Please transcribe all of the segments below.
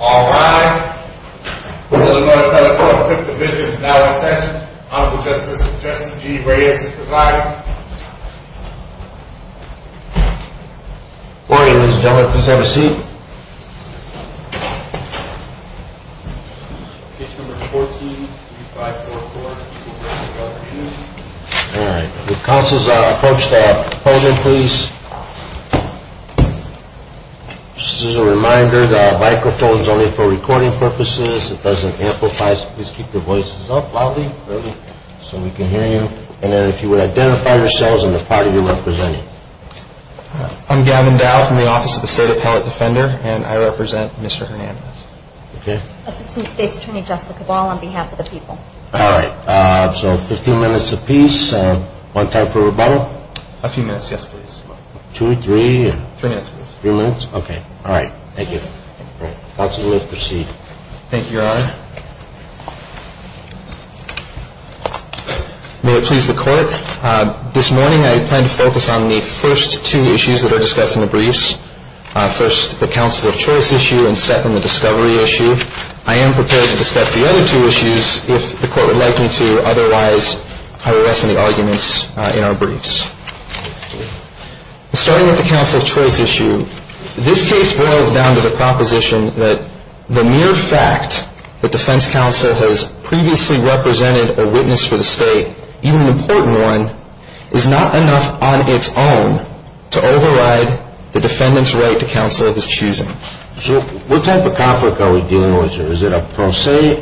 All rise. We will now telephone the 5th Division's dialogue session. Honorable Justice Justice G. Reyes is the provider. Good morning, ladies and gentlemen. Please have a seat. Page number 14, 3544. All right. Would counsels approach the podium, please? Just as a reminder, the microphone is only for recording purposes. It doesn't amplify, so please keep your voices up loudly so we can hear you. And then if you would identify yourselves and the party you're representing. I'm Gavin Dow from the Office of the State Appellate Defender, and I represent Mr. Hernandez. Assistant State's Attorney Jessica Ball on behalf of the people. All right. So 15 minutes apiece. One time for rebuttal? A few minutes, yes, please. Two or three? Three minutes, please. Three minutes? Okay. All right. Thank you. Counsel, you may proceed. Thank you, Your Honor. May it please the Court, this morning I plan to focus on the first two issues that are discussed in the briefs. First, the counsel of choice issue, and second, the discovery issue. I am prepared to discuss the other two issues if the Court would like me to. Otherwise, I will rest on the arguments in our briefs. Starting with the counsel of choice issue, this case boils down to the proposition that the mere fact that defense counsel has previously represented a witness for the state, even an important one, is not enough on its own to override the defendant's right to counsel of his choosing. So what type of conflict are we dealing with here? Is it a per se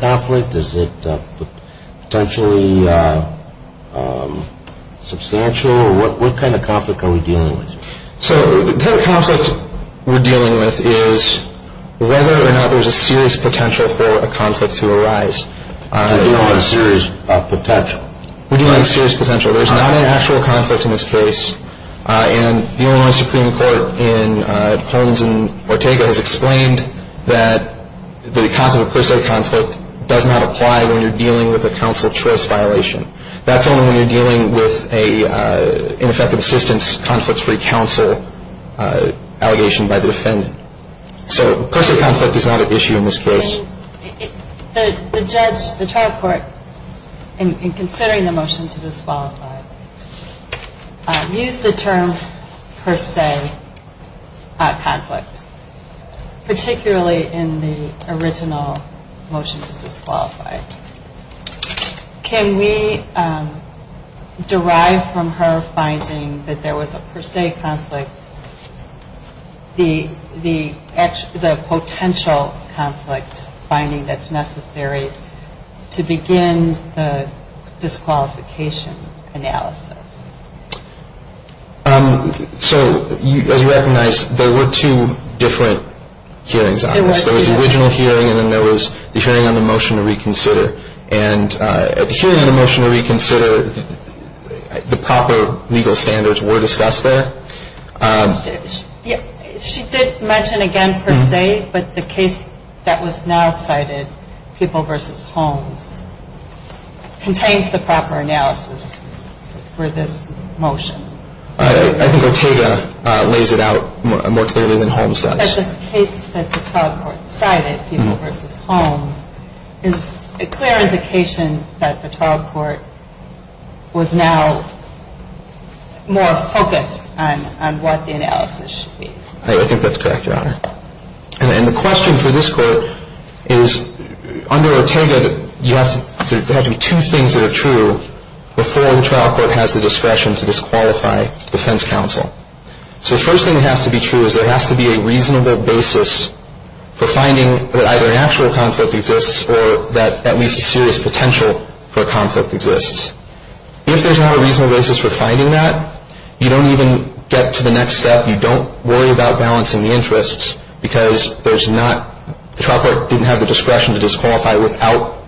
conflict? Is it potentially substantial? What kind of conflict are we dealing with here? So the type of conflict we're dealing with is whether or not there's a serious potential for a conflict to arise. You're dealing with a serious potential? We're dealing with a serious potential. There's not an actual conflict in this case. And the Illinois Supreme Court in Holmes and Ortega has explained that the concept of per se conflict does not apply when you're dealing with a counsel of choice violation. That's only when you're dealing with an ineffective assistance, conflict-free counsel allegation by the defendant. So per se conflict is not an issue in this case. The trial court, in considering the motion to disqualify, used the term per se conflict, particularly in the original motion to disqualify. Can we derive from her finding that there was a per se conflict the potential conflict finding that's necessary to begin the disqualification analysis? So as you recognize, there were two different hearings on this. There was the original hearing and then there was the hearing on the motion to reconsider. And at the hearing on the motion to reconsider, the proper legal standards were discussed there. She did mention again per se, but the case that was now cited, People v. Holmes, contains the proper analysis for this motion. I think Ortega lays it out more clearly than Holmes does. The case that the trial court cited, People v. Holmes, is a clear indication that the trial court was now more focused on what the analysis should be. I think that's correct, Your Honor. And the question for this court is, under Ortega, there have to be two things that are true before the trial court has the discretion to disqualify defense counsel. So the first thing that has to be true is there has to be a reasonable basis for finding that either an actual conflict exists or that at least a serious potential for a conflict exists. If there's not a reasonable basis for finding that, you don't even get to the next step. You don't worry about balancing the interests because there's not – the trial court didn't have the discretion to disqualify without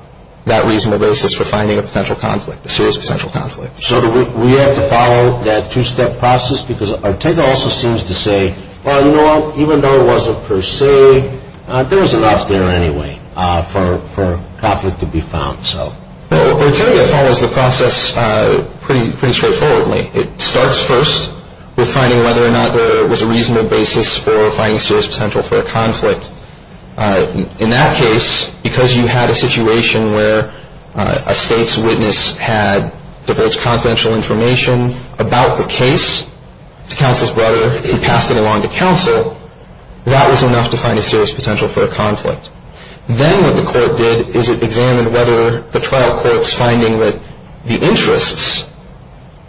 that reasonable basis for finding a potential conflict, a serious potential conflict. So do we have to follow that two-step process? Because Ortega also seems to say, you know what, even though it wasn't per se, there was enough there anyway for conflict to be found. Well, Ortega follows the process pretty straightforwardly. It starts first with finding whether or not there was a reasonable basis for finding a serious potential for a conflict. In that case, because you had a situation where a state's witness had diverged confidential information about the case to counsel's brother and passed it along to counsel, that was enough to find a serious potential for a conflict. Then what the court did is it examined whether the trial court's finding that the interests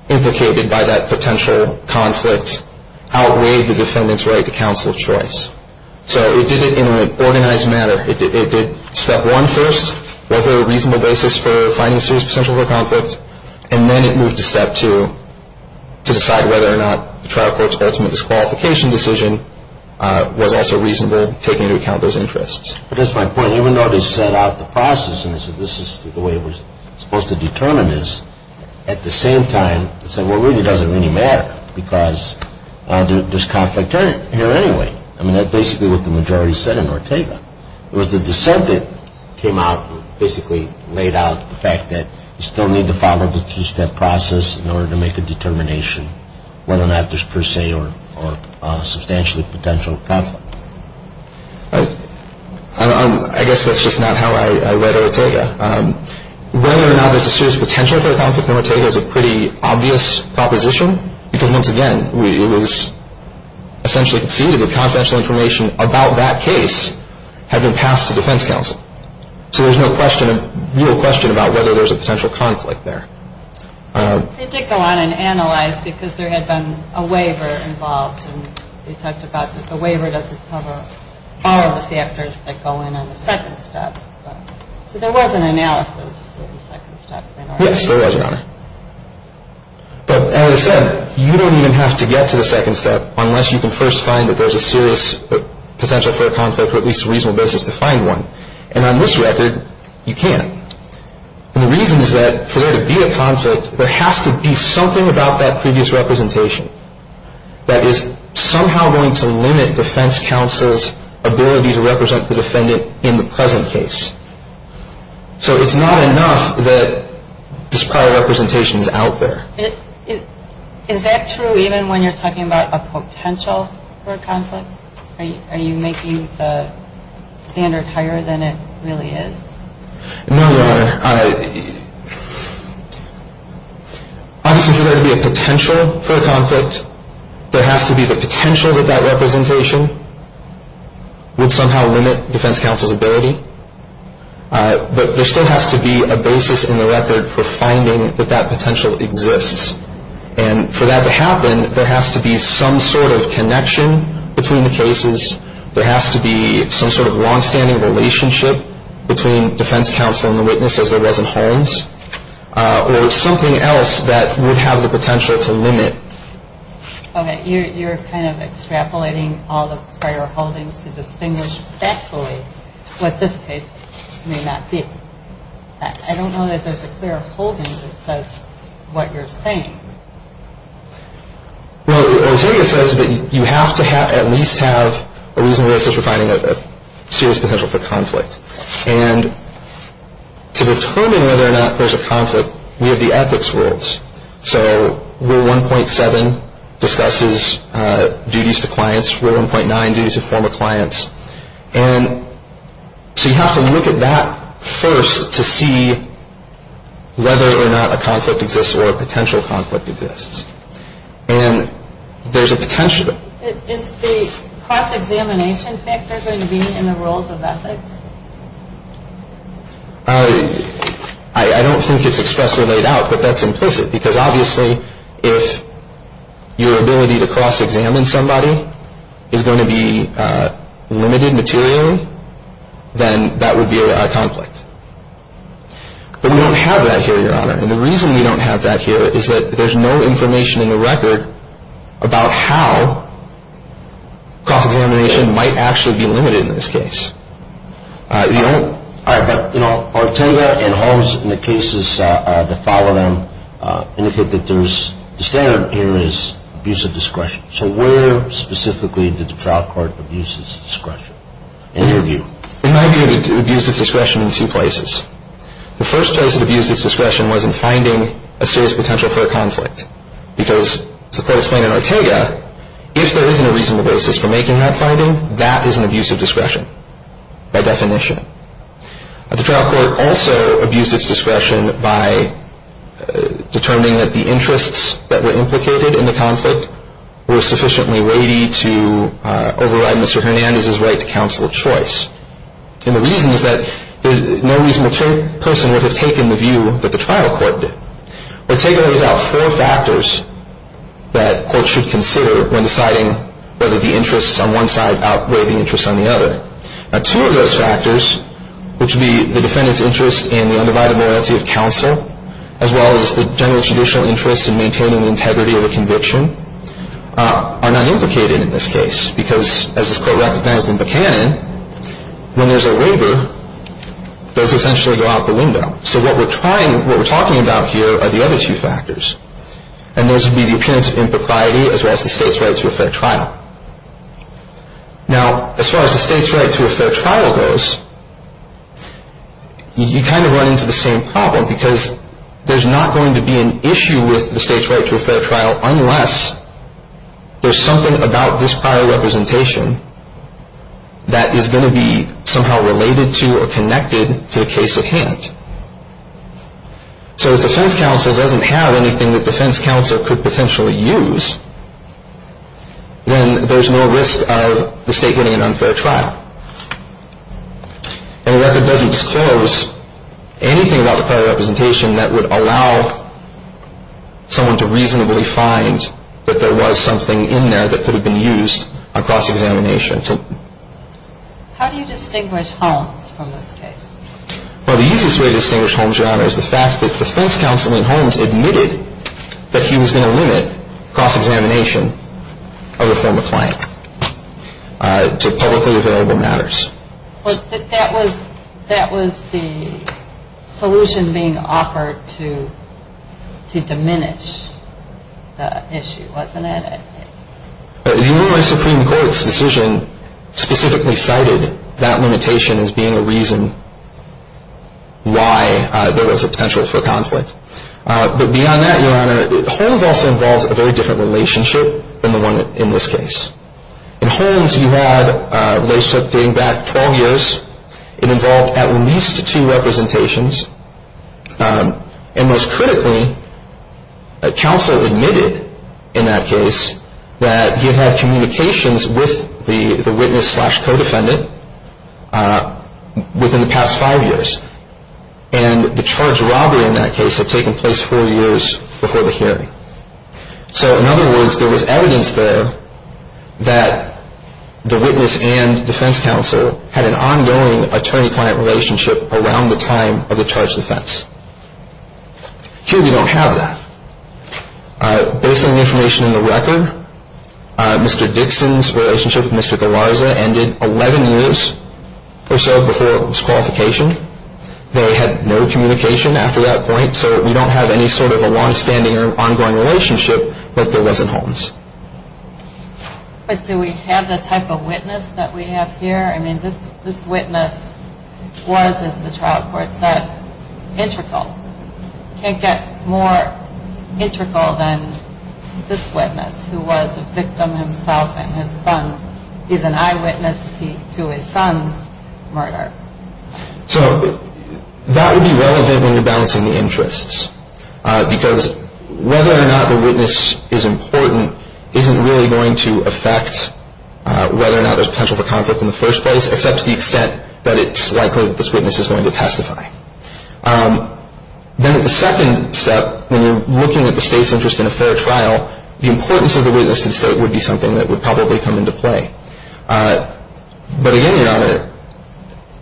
implicated by that potential conflict outweighed the defendant's right to counsel's choice. So it did it in an organized manner. It did step one first, was there a reasonable basis for finding a serious potential for a conflict, and then it moved to step two to decide whether or not the trial court's ultimate disqualification decision was also reasonable, taking into account those interests. But that's my point. Even though they set out the process and they said this is the way it was supposed to determine this, at the same time they said, well, it really doesn't really matter because there's conflict here anyway. I mean, that's basically what the majority said in Ortega. It was the dissent that came out and basically laid out the fact that you still need to follow the two-step process in order to make a determination whether or not there's per se or substantially potential conflict. I guess that's just not how I read Ortega. Whether or not there's a serious potential for a conflict in Ortega is a pretty obvious proposition because, once again, it was essentially conceded that confidential information about that case had been passed to defense counsel. So there's no question, real question, about whether there's a potential conflict there. They did go on and analyze because there had been a waiver involved. They talked about the waiver doesn't cover all of the factors that go in on the second step. So there was an analysis of the second step. Yes, there was, Your Honor. But, as I said, you don't even have to get to the second step unless you can first find that there's a serious potential for a conflict or at least a reasonable basis to find one. And on this record, you can't. And the reason is that for there to be a conflict, there has to be something about that previous representation that is somehow going to limit defense counsel's ability to represent the defendant in the present case. So it's not enough that this prior representation is out there. Is that true even when you're talking about a potential for a conflict? Are you making the standard higher than it really is? No, Your Honor. Obviously, for there to be a potential for a conflict, there has to be the potential that that representation would somehow limit defense counsel's ability. But there still has to be a basis in the record for finding that that potential exists. And for that to happen, there has to be some sort of connection between the cases. There has to be some sort of longstanding relationship between defense counsel and the witness as there was in Holmes. Or something else that would have the potential to limit. Okay. You're kind of extrapolating all the prior holdings to distinguish factually what this case may not be. I don't know that there's a clear holding that says what you're saying. Well, Ontario says that you have to at least have a reasonable basis for finding a serious potential for conflict. And to determine whether or not there's a conflict, we have the ethics rules. So Rule 1.7 discusses duties to clients. Rule 1.9, duties to former clients. And so you have to look at that first to see whether or not a conflict exists or a potential conflict exists. And there's a potential. Is the cross-examination factor going to be in the rules of ethics? I don't think it's expressively laid out, but that's implicit. Because obviously if your ability to cross-examine somebody is going to be limited materially, then that would be a conflict. But we don't have that here, Your Honor. And the reason we don't have that here is that there's no information in the record about how cross-examination might actually be limited in this case. All right. But, you know, Ortega and Holmes in the cases that follow them indicate that the standard here is abuse of discretion. So where specifically did the trial court abuse its discretion, in your view? In my view, it abused its discretion in two places. The first place it abused its discretion was in finding a serious potential for a conflict. Because as the court explained in Ortega, if there isn't a reasonable basis for making that finding, that is an abuse of discretion by definition. The trial court also abused its discretion by determining that the interests that were implicated in the conflict were sufficiently weighty to override Mr. Hernandez's right to counsel choice. And the reason is that no reasonable person would have taken the view that the trial court did. Ortega lays out four factors that courts should consider when deciding whether the interests on one side outweigh the interests on the other. Now, two of those factors, which would be the defendant's interest in the undivided loyalty of counsel, as well as the general judicial interest in maintaining the integrity of the conviction, are not implicated in this case. Because as this court recognizes in Buchanan, when there's a waiver, those essentially go out the window. So what we're trying, what we're talking about here are the other two factors. And those would be the appearance of impropriety, as well as the state's right to a fair trial. Now, as far as the state's right to a fair trial goes, you kind of run into the same problem. Because there's not going to be an issue with the state's right to a fair trial unless there's something about this prior representation that is going to be somehow related to or connected to the case at hand. So if the defense counsel doesn't have anything that defense counsel could potentially use, then there's no risk of the state winning an unfair trial. And the record doesn't disclose anything about the prior representation that would allow someone to reasonably find that there was something in there that could have been used on cross-examination. How do you distinguish Holmes from this case? Well, the easiest way to distinguish Holmes, Your Honor, is the fact that the defense counsel in Holmes admitted that he was going to limit cross-examination of a former client to publicly available matters. But that was the solution being offered to diminish the issue, wasn't it? Your Honor, the Supreme Court's decision specifically cited that limitation as being a reason why there was a potential for conflict. But beyond that, Your Honor, Holmes also involves a very different relationship than the one in this case. In Holmes, you had a relationship going back 12 years. It involved at least two representations. And most critically, counsel admitted in that case that he had had communications with the witness-slash-codefendant within the past five years. And the charged robbery in that case had taken place four years before the hearing. So in other words, there was evidence there that the witness and defense counsel had an ongoing attorney-client relationship around the time of the charged offense. Here we don't have that. Based on the information in the record, Mr. Dixon's relationship with Mr. Galarza ended 11 years or so before it was qualification. They had no communication after that point. So we don't have any sort of a longstanding or ongoing relationship like there was in Holmes. But do we have the type of witness that we have here? I mean, this witness was, as the trial court said, integral. Can't get more integral than this witness, who was a victim himself, and his son is an eyewitness to his son's murder. So that would be relevant when you're balancing the interests, because whether or not the witness is important isn't really going to affect whether or not there's potential for conflict in the first place, except to the extent that it's likely that this witness is going to testify. Then the second step, when you're looking at the State's interest in a fair trial, the importance of the witness to the State would be something that would probably come into play. But again, Your Honor,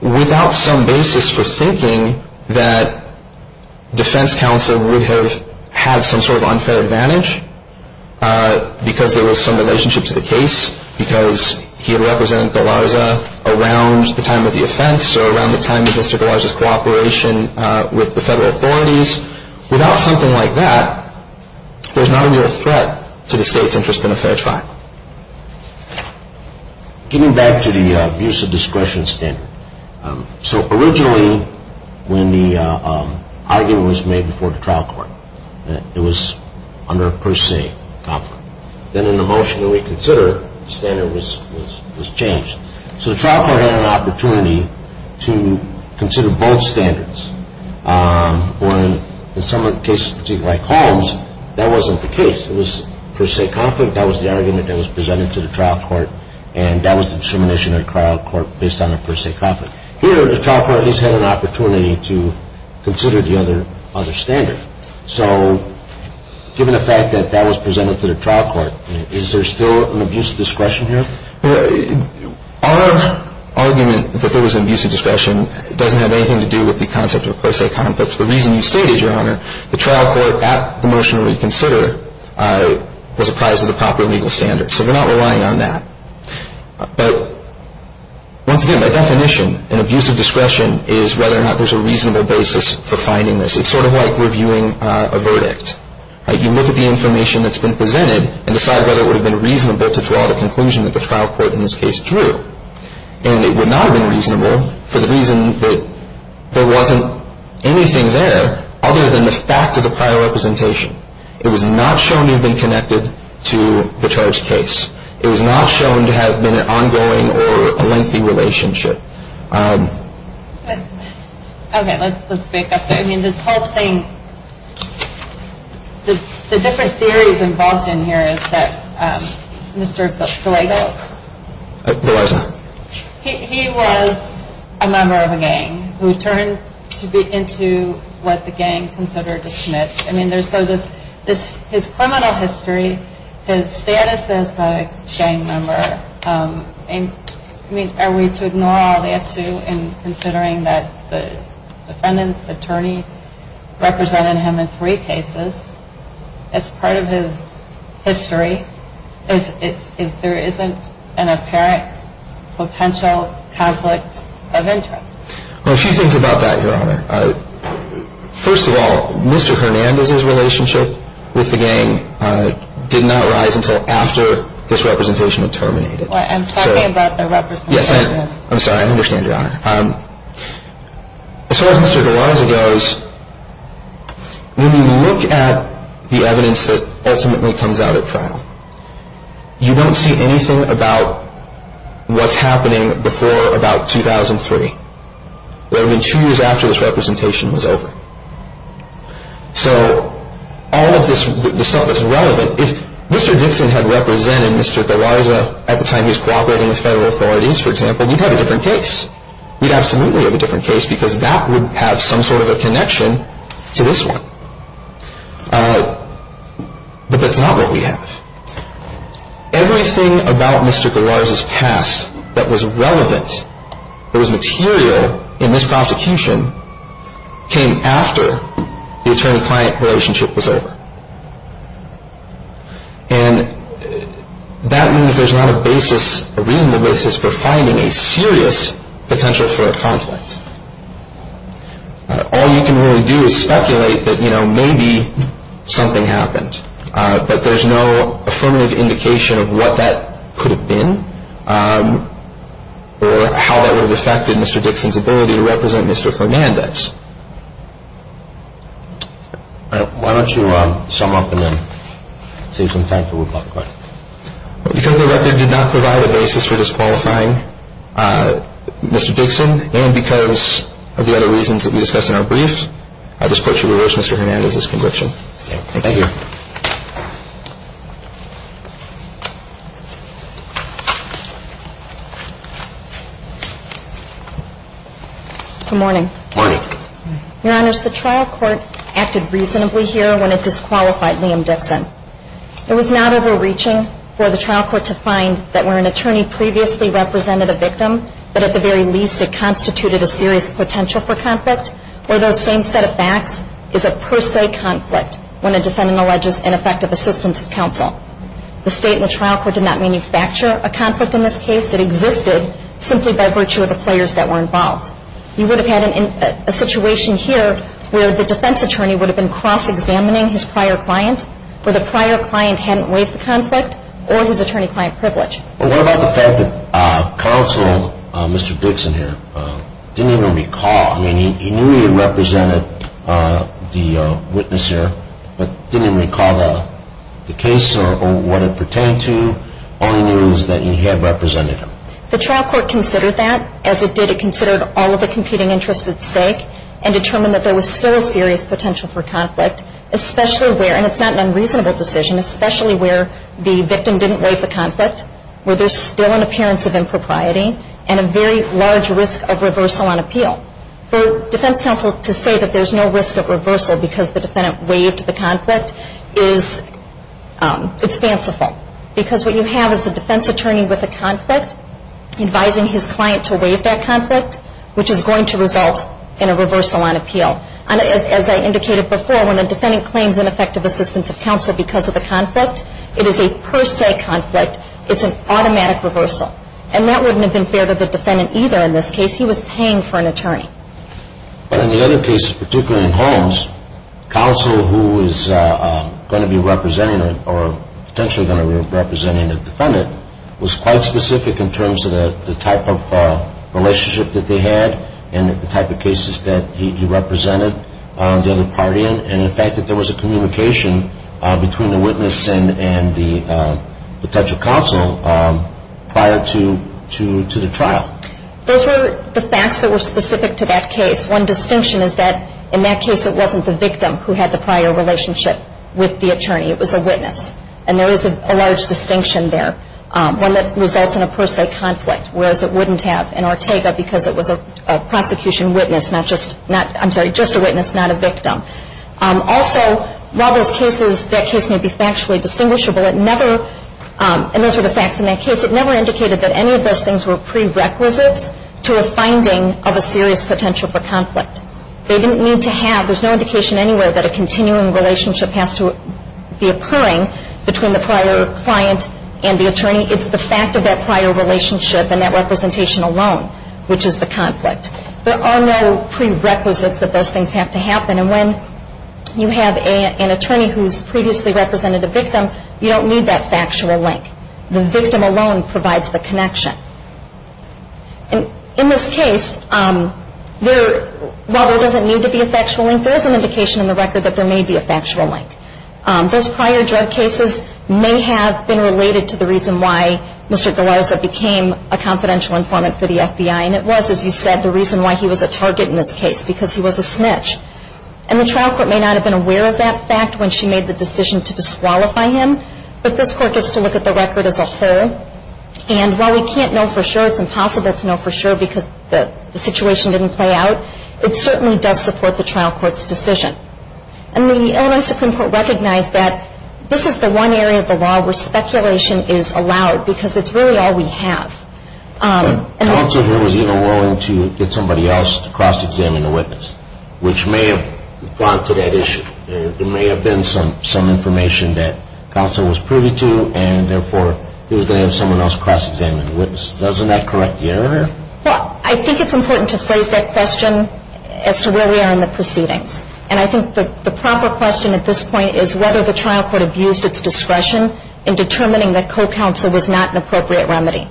without some basis for thinking that defense counsel would have had some sort of unfair advantage, because there was some relationship to the case, because he had represented Galarza around the time of the offense, or around the time of Mr. Galarza's cooperation with the federal authorities. Without something like that, there's not a real threat to the State's interest in a fair trial. Getting back to the use of discretion standard, so originally when the argument was made before the trial court, it was under a per se conflict. Then in the motion that we consider, the standard was changed. So the trial court had an opportunity to consider both standards, where in some cases, particularly like Holmes, that wasn't the case. It was per se conflict, that was the argument that was presented to the trial court, and that was the determination of the trial court based on a per se conflict. Here, the trial court at least had an opportunity to consider the other standard. So given the fact that that was presented to the trial court, is there still an abuse of discretion here? Our argument that there was an abuse of discretion doesn't have anything to do with the concept of per se conflict. The reason you stated, Your Honor, the trial court at the motion that we consider was apprised of the proper legal standard. So we're not relying on that. But once again, my definition in abuse of discretion is whether or not there's a reasonable basis for finding this. It's sort of like reviewing a verdict. You look at the information that's been presented and decide whether it would have been reasonable to draw the conclusion that the trial court in this case drew. And it would not have been reasonable for the reason that there wasn't anything there other than the fact of the prior representation. It was not shown to have been connected to the charged case. It was not shown to have been an ongoing or a lengthy relationship. Okay, let's pick up there. I mean, this whole thing, the different theories involved in here is that Mr. Flagle, he was a member of a gang who turned into what the gang considered a snitch. I mean, his criminal history, his status as a gang member, I mean, are we to ignore all that too in considering that the defendant's attorney represented him in three cases? That's part of his history. There isn't an apparent potential conflict of interest. Well, a few things about that, Your Honor. First of all, Mr. Hernandez's relationship with the gang did not rise until after this representation had terminated. I'm talking about the representation. I'm sorry, I understand, Your Honor. As far as Mr. Garanza goes, when you look at the evidence that ultimately comes out at trial, you don't see anything about what's happening before about 2003. It would have been two years after this representation was over. So all of this stuff that's relevant, if Mr. Dixon had represented Mr. Garanza at the time he was cooperating with federal authorities, for example, we'd have a different case. We'd absolutely have a different case because that would have some sort of a connection to this one. But that's not what we have. Everything about Mr. Garanza's past that was relevant, that was material in this prosecution, came after the attorney-client relationship was over. And that means there's not a basis, a reasonable basis for finding a serious potential for a conflict. All you can really do is speculate that maybe something happened. But there's no affirmative indication of what that could have been or how that would have affected Mr. Dixon's ability to represent Mr. Hernandez. All right. Why don't you sum up and then take some time for rebuttal. Because the record did not provide a basis for disqualifying Mr. Dixon and because of the other reasons that we discussed in our brief, I just put you to release Mr. Hernandez's conviction. Thank you. Good morning. Morning. Your Honors, the trial court acted reasonably here when it disqualified Liam Dixon. It was not overreaching for the trial court to find that where an attorney previously represented a victim, but at the very least it constituted a serious potential for conflict, where those same set of facts is a per se conflict when a defendant alleges ineffective assistance of counsel. The state and the trial court did not manufacture a conflict in this case. It existed simply by virtue of the players that were involved. You would have had a situation here where the defense attorney would have been cross-examining his prior client, where the prior client hadn't waived the conflict, or his attorney-client privilege. Well, what about the fact that counsel, Mr. Dixon here, didn't even recall, I mean he knew he had represented the witness here, but didn't even recall the case or what it pertained to, all he knew was that he had represented him. The trial court considered that. As it did, it considered all of the competing interests at stake and it's not an unreasonable decision, especially where the victim didn't waive the conflict, where there's still an appearance of impropriety, and a very large risk of reversal on appeal. For defense counsel to say that there's no risk of reversal because the defendant waived the conflict, it's fanciful. Because what you have is a defense attorney with a conflict advising his client to waive that conflict, which is going to result in a reversal on appeal. As I indicated before, when a defendant claims ineffective assistance of counsel because of a conflict, it is a per se conflict. It's an automatic reversal. And that wouldn't have been fair to the defendant either in this case. He was paying for an attorney. But in the other cases, particularly in Holmes, counsel who is going to be representing, or potentially going to be representing the defendant, was quite specific in terms of the type of relationship that they had and the type of cases that he represented the other party in, and the fact that there was a communication between the witness and the potential counsel prior to the trial. Those were the facts that were specific to that case. One distinction is that in that case it wasn't the victim who had the prior relationship with the attorney. It was a witness. And there is a large distinction there, one that results in a per se conflict, whereas it wouldn't have in Ortega because it was a prosecution witness, not just, not, I'm sorry, just a witness, not a victim. Also, while those cases, that case may be factually distinguishable, it never, and those were the facts in that case, it never indicated that any of those things were prerequisites to a finding of a serious potential for conflict. They didn't need to have, there's no indication anywhere that a continuing relationship has to be occurring between the prior client and the attorney. It's the fact of that prior relationship and that representation alone, which is the conflict. There are no prerequisites that those things have to happen, and when you have an attorney who's previously represented a victim, you don't need that factual link. The victim alone provides the connection. And in this case, while there doesn't need to be a factual link, there is an indication in the record that there may be a factual link. Those prior drug cases may have been related to the reason why Mr. Galarza became a confidential informant for the FBI, and it was, as you said, the reason why he was a target in this case, because he was a snitch. And the trial court may not have been aware of that fact when she made the decision to disqualify him, but this court gets to look at the record as a whole, and while we can't know for sure, it's impossible to know for sure because the situation didn't play out, it certainly does support the trial court's decision. And the Illinois Supreme Court recognized that this is the one area of the law where speculation is allowed, because it's really all we have. Counsel here was even willing to get somebody else to cross-examine the witness, which may have gone to that issue. There may have been some information that counsel was privy to, and therefore he was going to have someone else cross-examine the witness. Doesn't that correct the error? Well, I think it's important to phrase that question as to where we are in the proceedings, and I think the proper question at this point is whether the trial court abused its discretion in determining that co-counsel was not an appropriate remedy,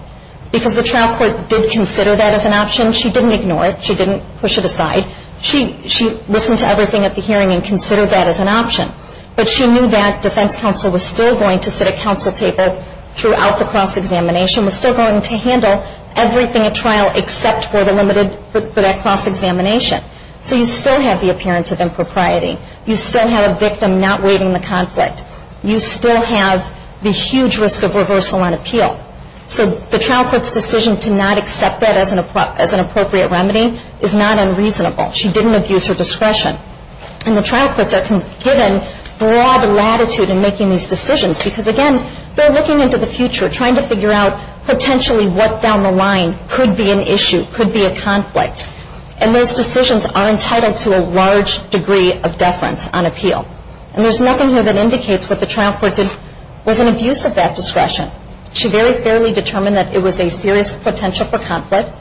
because the trial court did consider that as an option. She didn't ignore it. She didn't push it aside. She listened to everything at the hearing and considered that as an option, but she knew that defense counsel was still going to sit at counsel table throughout the cross-examination, was still going to handle everything at trial except for the limited, for that cross-examination. So you still have the appearance of impropriety. You still have a victim not waiving the conflict. You still have the huge risk of reversal on appeal. So the trial court's decision to not accept that as an appropriate remedy is not unreasonable. She didn't abuse her discretion. And the trial courts are given broad latitude in making these decisions, because, again, they're looking into the future, trying to figure out potentially what down the line could be an issue, could be a conflict. And those decisions are entitled to a large degree of deference on appeal. And there's nothing here that indicates what the trial court did was an abuse of that discretion. She very fairly determined that it was a serious potential for conflict,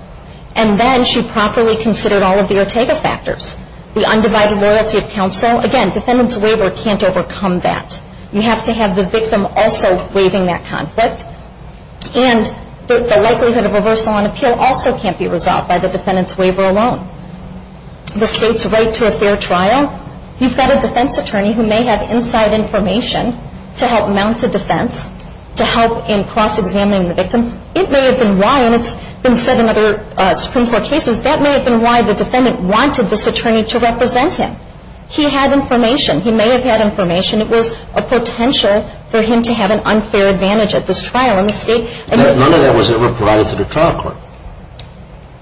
and then she properly considered all of the Ortega factors, the undivided loyalty of counsel. Again, defendant's waiver can't overcome that. You have to have the victim also waiving that conflict, and the likelihood of reversal on appeal also can't be resolved by the defendant's waiver alone. The state's right to a fair trial, you've got a defense attorney who may have inside information to help mount a defense, to help in cross-examining the victim. It may have been why, and it's been said in other Supreme Court cases, that may have been why the defendant wanted this attorney to represent him. He had information. He may have had information. It was a potential for him to have an unfair advantage at this trial in the state. None of that was ever provided to the trial court.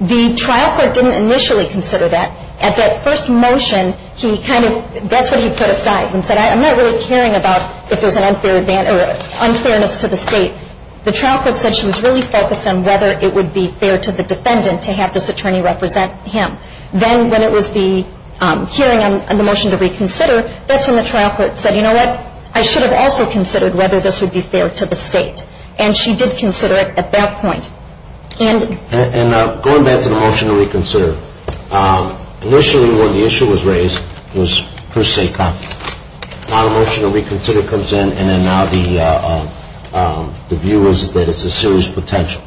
The trial court didn't initially consider that. At that first motion, that's what he put aside and said, I'm not really caring about if there's unfairness to the state. The trial court said she was really focused on whether it would be fair to the defendant to have this attorney represent him. Then when it was the hearing on the motion to reconsider, that's when the trial court said, you know what, I should have also considered whether this would be fair to the state. And she did consider it at that point. And going back to the motion to reconsider, initially when the issue was raised, it was per se confident. Now the motion to reconsider comes in, and then now the view is that it's a serious potential.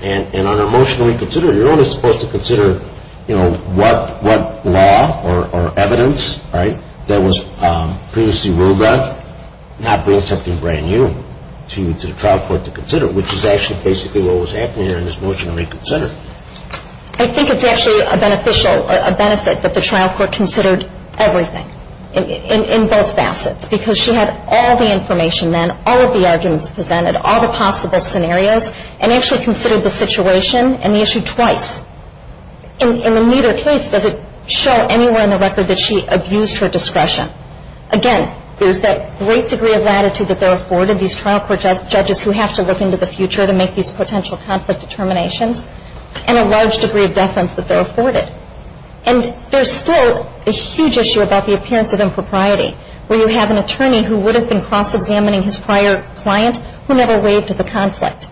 And on a motion to reconsider, you're only supposed to consider what law or evidence that was previously ruled on, not bring something brand new to the trial court to consider, which is actually basically what was happening there in this motion to reconsider. I think it's actually a benefit that the trial court considered everything in both facets because she had all the information then, all of the arguments presented, all the possible scenarios, and actually considered the situation and the issue twice. And in neither case does it show anywhere in the record that she abused her discretion. Again, there's that great degree of latitude that they're afforded, these trial court judges who have to look into the future to make these potential conflict determinations, and a large degree of deference that they're afforded. And there's still a huge issue about the appearance of impropriety, where you have an attorney who would have been cross-examining his prior client who never waived the conflict.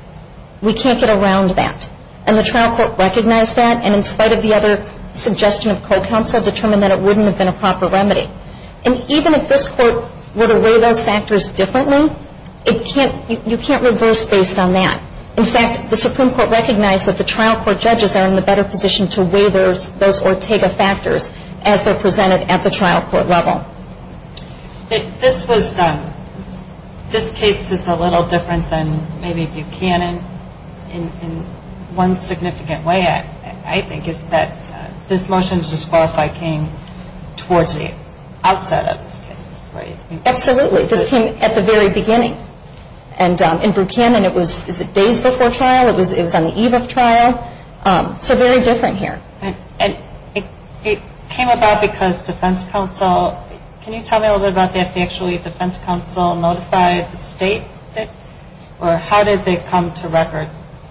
We can't get around that. And the trial court recognized that, and in spite of the other suggestion of co-counsel, determined that it wouldn't have been a proper remedy. And even if this court were to weigh those factors differently, you can't reverse based on that. In fact, the Supreme Court recognized that the trial court judges are in the better position to weigh those Ortega factors as they're presented at the trial court level. This case is a little different than maybe Buchanan in one significant way, I think, is that this motion to disqualify came towards the outset of this case, right? Absolutely. This came at the very beginning. And in Buchanan, it was days before trial. It was on the eve of trial. So very different here. And it came about because defense counsel – can you tell me a little bit about if actually defense counsel notified the state? Or how did they come to record?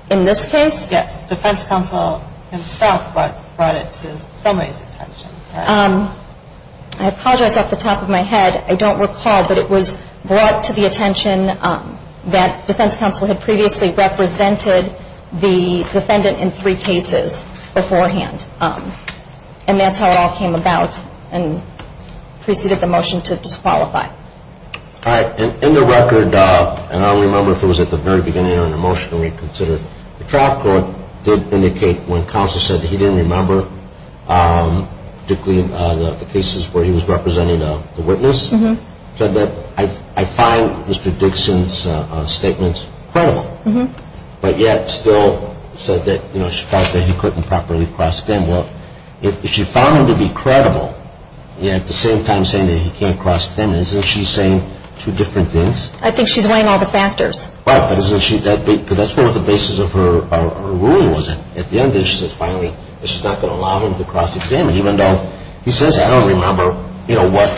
In this case? Yes. Defense counsel himself brought it to somebody's attention. I apologize off the top of my head. I don't recall, but it was brought to the attention that defense counsel had previously represented the defendant in three cases beforehand. And that's how it all came about and preceded the motion to disqualify. All right. In the record, and I don't remember if it was at the very beginning or in the motion we considered, the trial court did indicate when counsel said that he didn't remember, particularly the cases where he was representing the witness, said that I find Mr. Dixon's statements credible. But yet still said that, you know, she thought that he couldn't properly cross-examine. Well, if she found him to be credible, yet at the same time saying that he can't cross-examine, isn't she saying two different things? I think she's weighing all the factors. Right, but isn't she – because that's what the basis of her ruling was. At the end of it, she said finally that she's not going to allow him to cross-examine, even though he says I don't remember, you know, what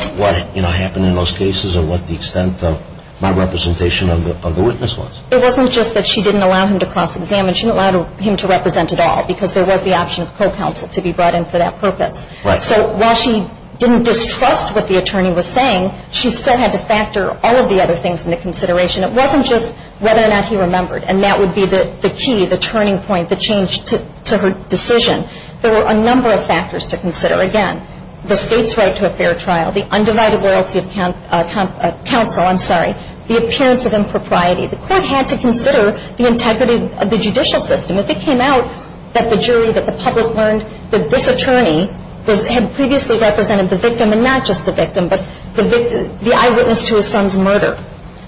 happened in those cases or what the extent of my representation of the witness was. It wasn't just that she didn't allow him to cross-examine. She didn't allow him to represent at all because there was the option of co-counsel to be brought in for that purpose. Right. So while she didn't distrust what the attorney was saying, she still had to factor all of the other things into consideration. It wasn't just whether or not he remembered. And that would be the key, the turning point, the change to her decision. There were a number of factors to consider. Again, the state's right to a fair trial, the undivided loyalty of counsel, I'm sorry, the appearance of impropriety. The court had to consider the integrity of the judicial system. If it came out that the jury, that the public learned that this attorney had previously represented the victim, and not just the victim, but the eyewitness to his son's murder,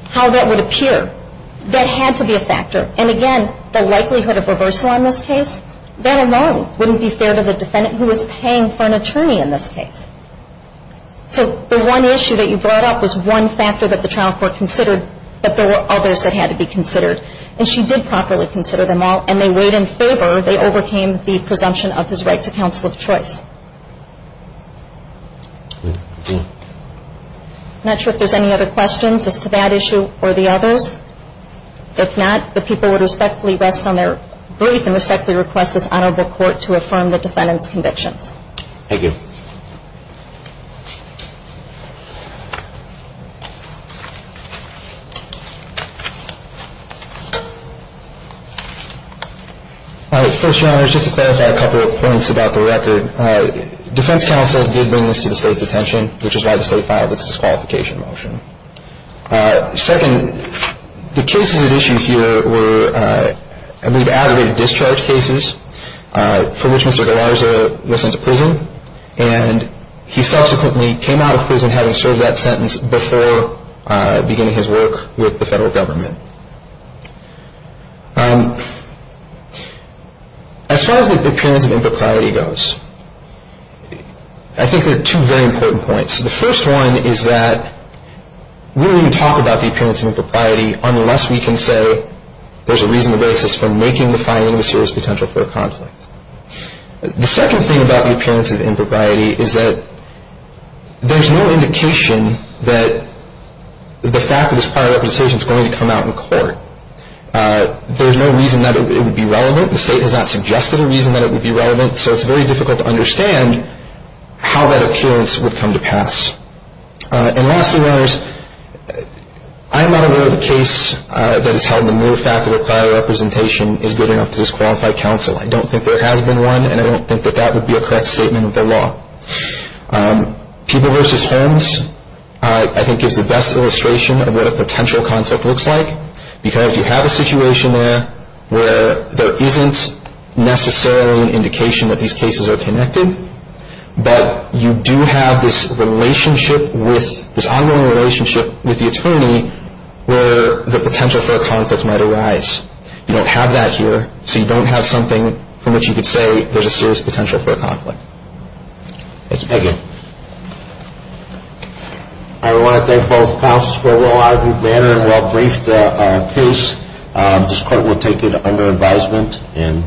how that would appear, that had to be a factor. And again, the likelihood of reversal on this case, that alone wouldn't be fair to the defendant who was paying for an attorney in this case. So the one issue that you brought up was one factor that the trial court considered that there were others that had to be considered. And she did properly consider them all, and they weighed in favor. They overcame the presumption of his right to counsel of choice. I'm not sure if there's any other questions as to that issue or the others. If not, the people would respectfully rest on their breath and respectfully request this honorable court to affirm the defendant's convictions. Thank you. All right. First, Your Honors, just to clarify a couple of points about the record. Defense counsel did bring this to the state's attention, which is why the state filed its disqualification motion. Second, the cases at issue here were, I believe, aggravated discharge cases for which Mr. Galarza was sent to prison. And he subsequently came out of prison having served that sentence before beginning his work with the federal government. As far as the appearance of impropriety goes, I think there are two very important points. The first one is that we don't even talk about the appearance of impropriety unless we can say there's a reasonable basis for making the finding a serious potential for a conflict. The second thing about the appearance of impropriety is that there's no indication that the fact of this prior representation is going to come out in court. There's no reason that it would be relevant. The state has not suggested a reason that it would be relevant, so it's very difficult to understand how that appearance would come to pass. And lastly, I'm not aware of a case that has held the mere fact that a prior representation is good enough to disqualify counsel. I don't think there has been one, and I don't think that that would be a correct statement of the law. People versus homes, I think, gives the best illustration of what a potential conflict looks like because you have a situation there where there isn't necessarily an indication that these cases are connected, but you do have this relationship with, this ongoing relationship with the attorney where the potential for a conflict might arise. You don't have that here, so you don't have something from which you could say there's a serious potential for a conflict. Let's begin. I want to thank both counsels for a well-articulated manner and well-briefed case. This court will take it under advisement and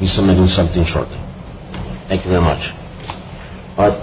be submitting something shortly. Thank you very much.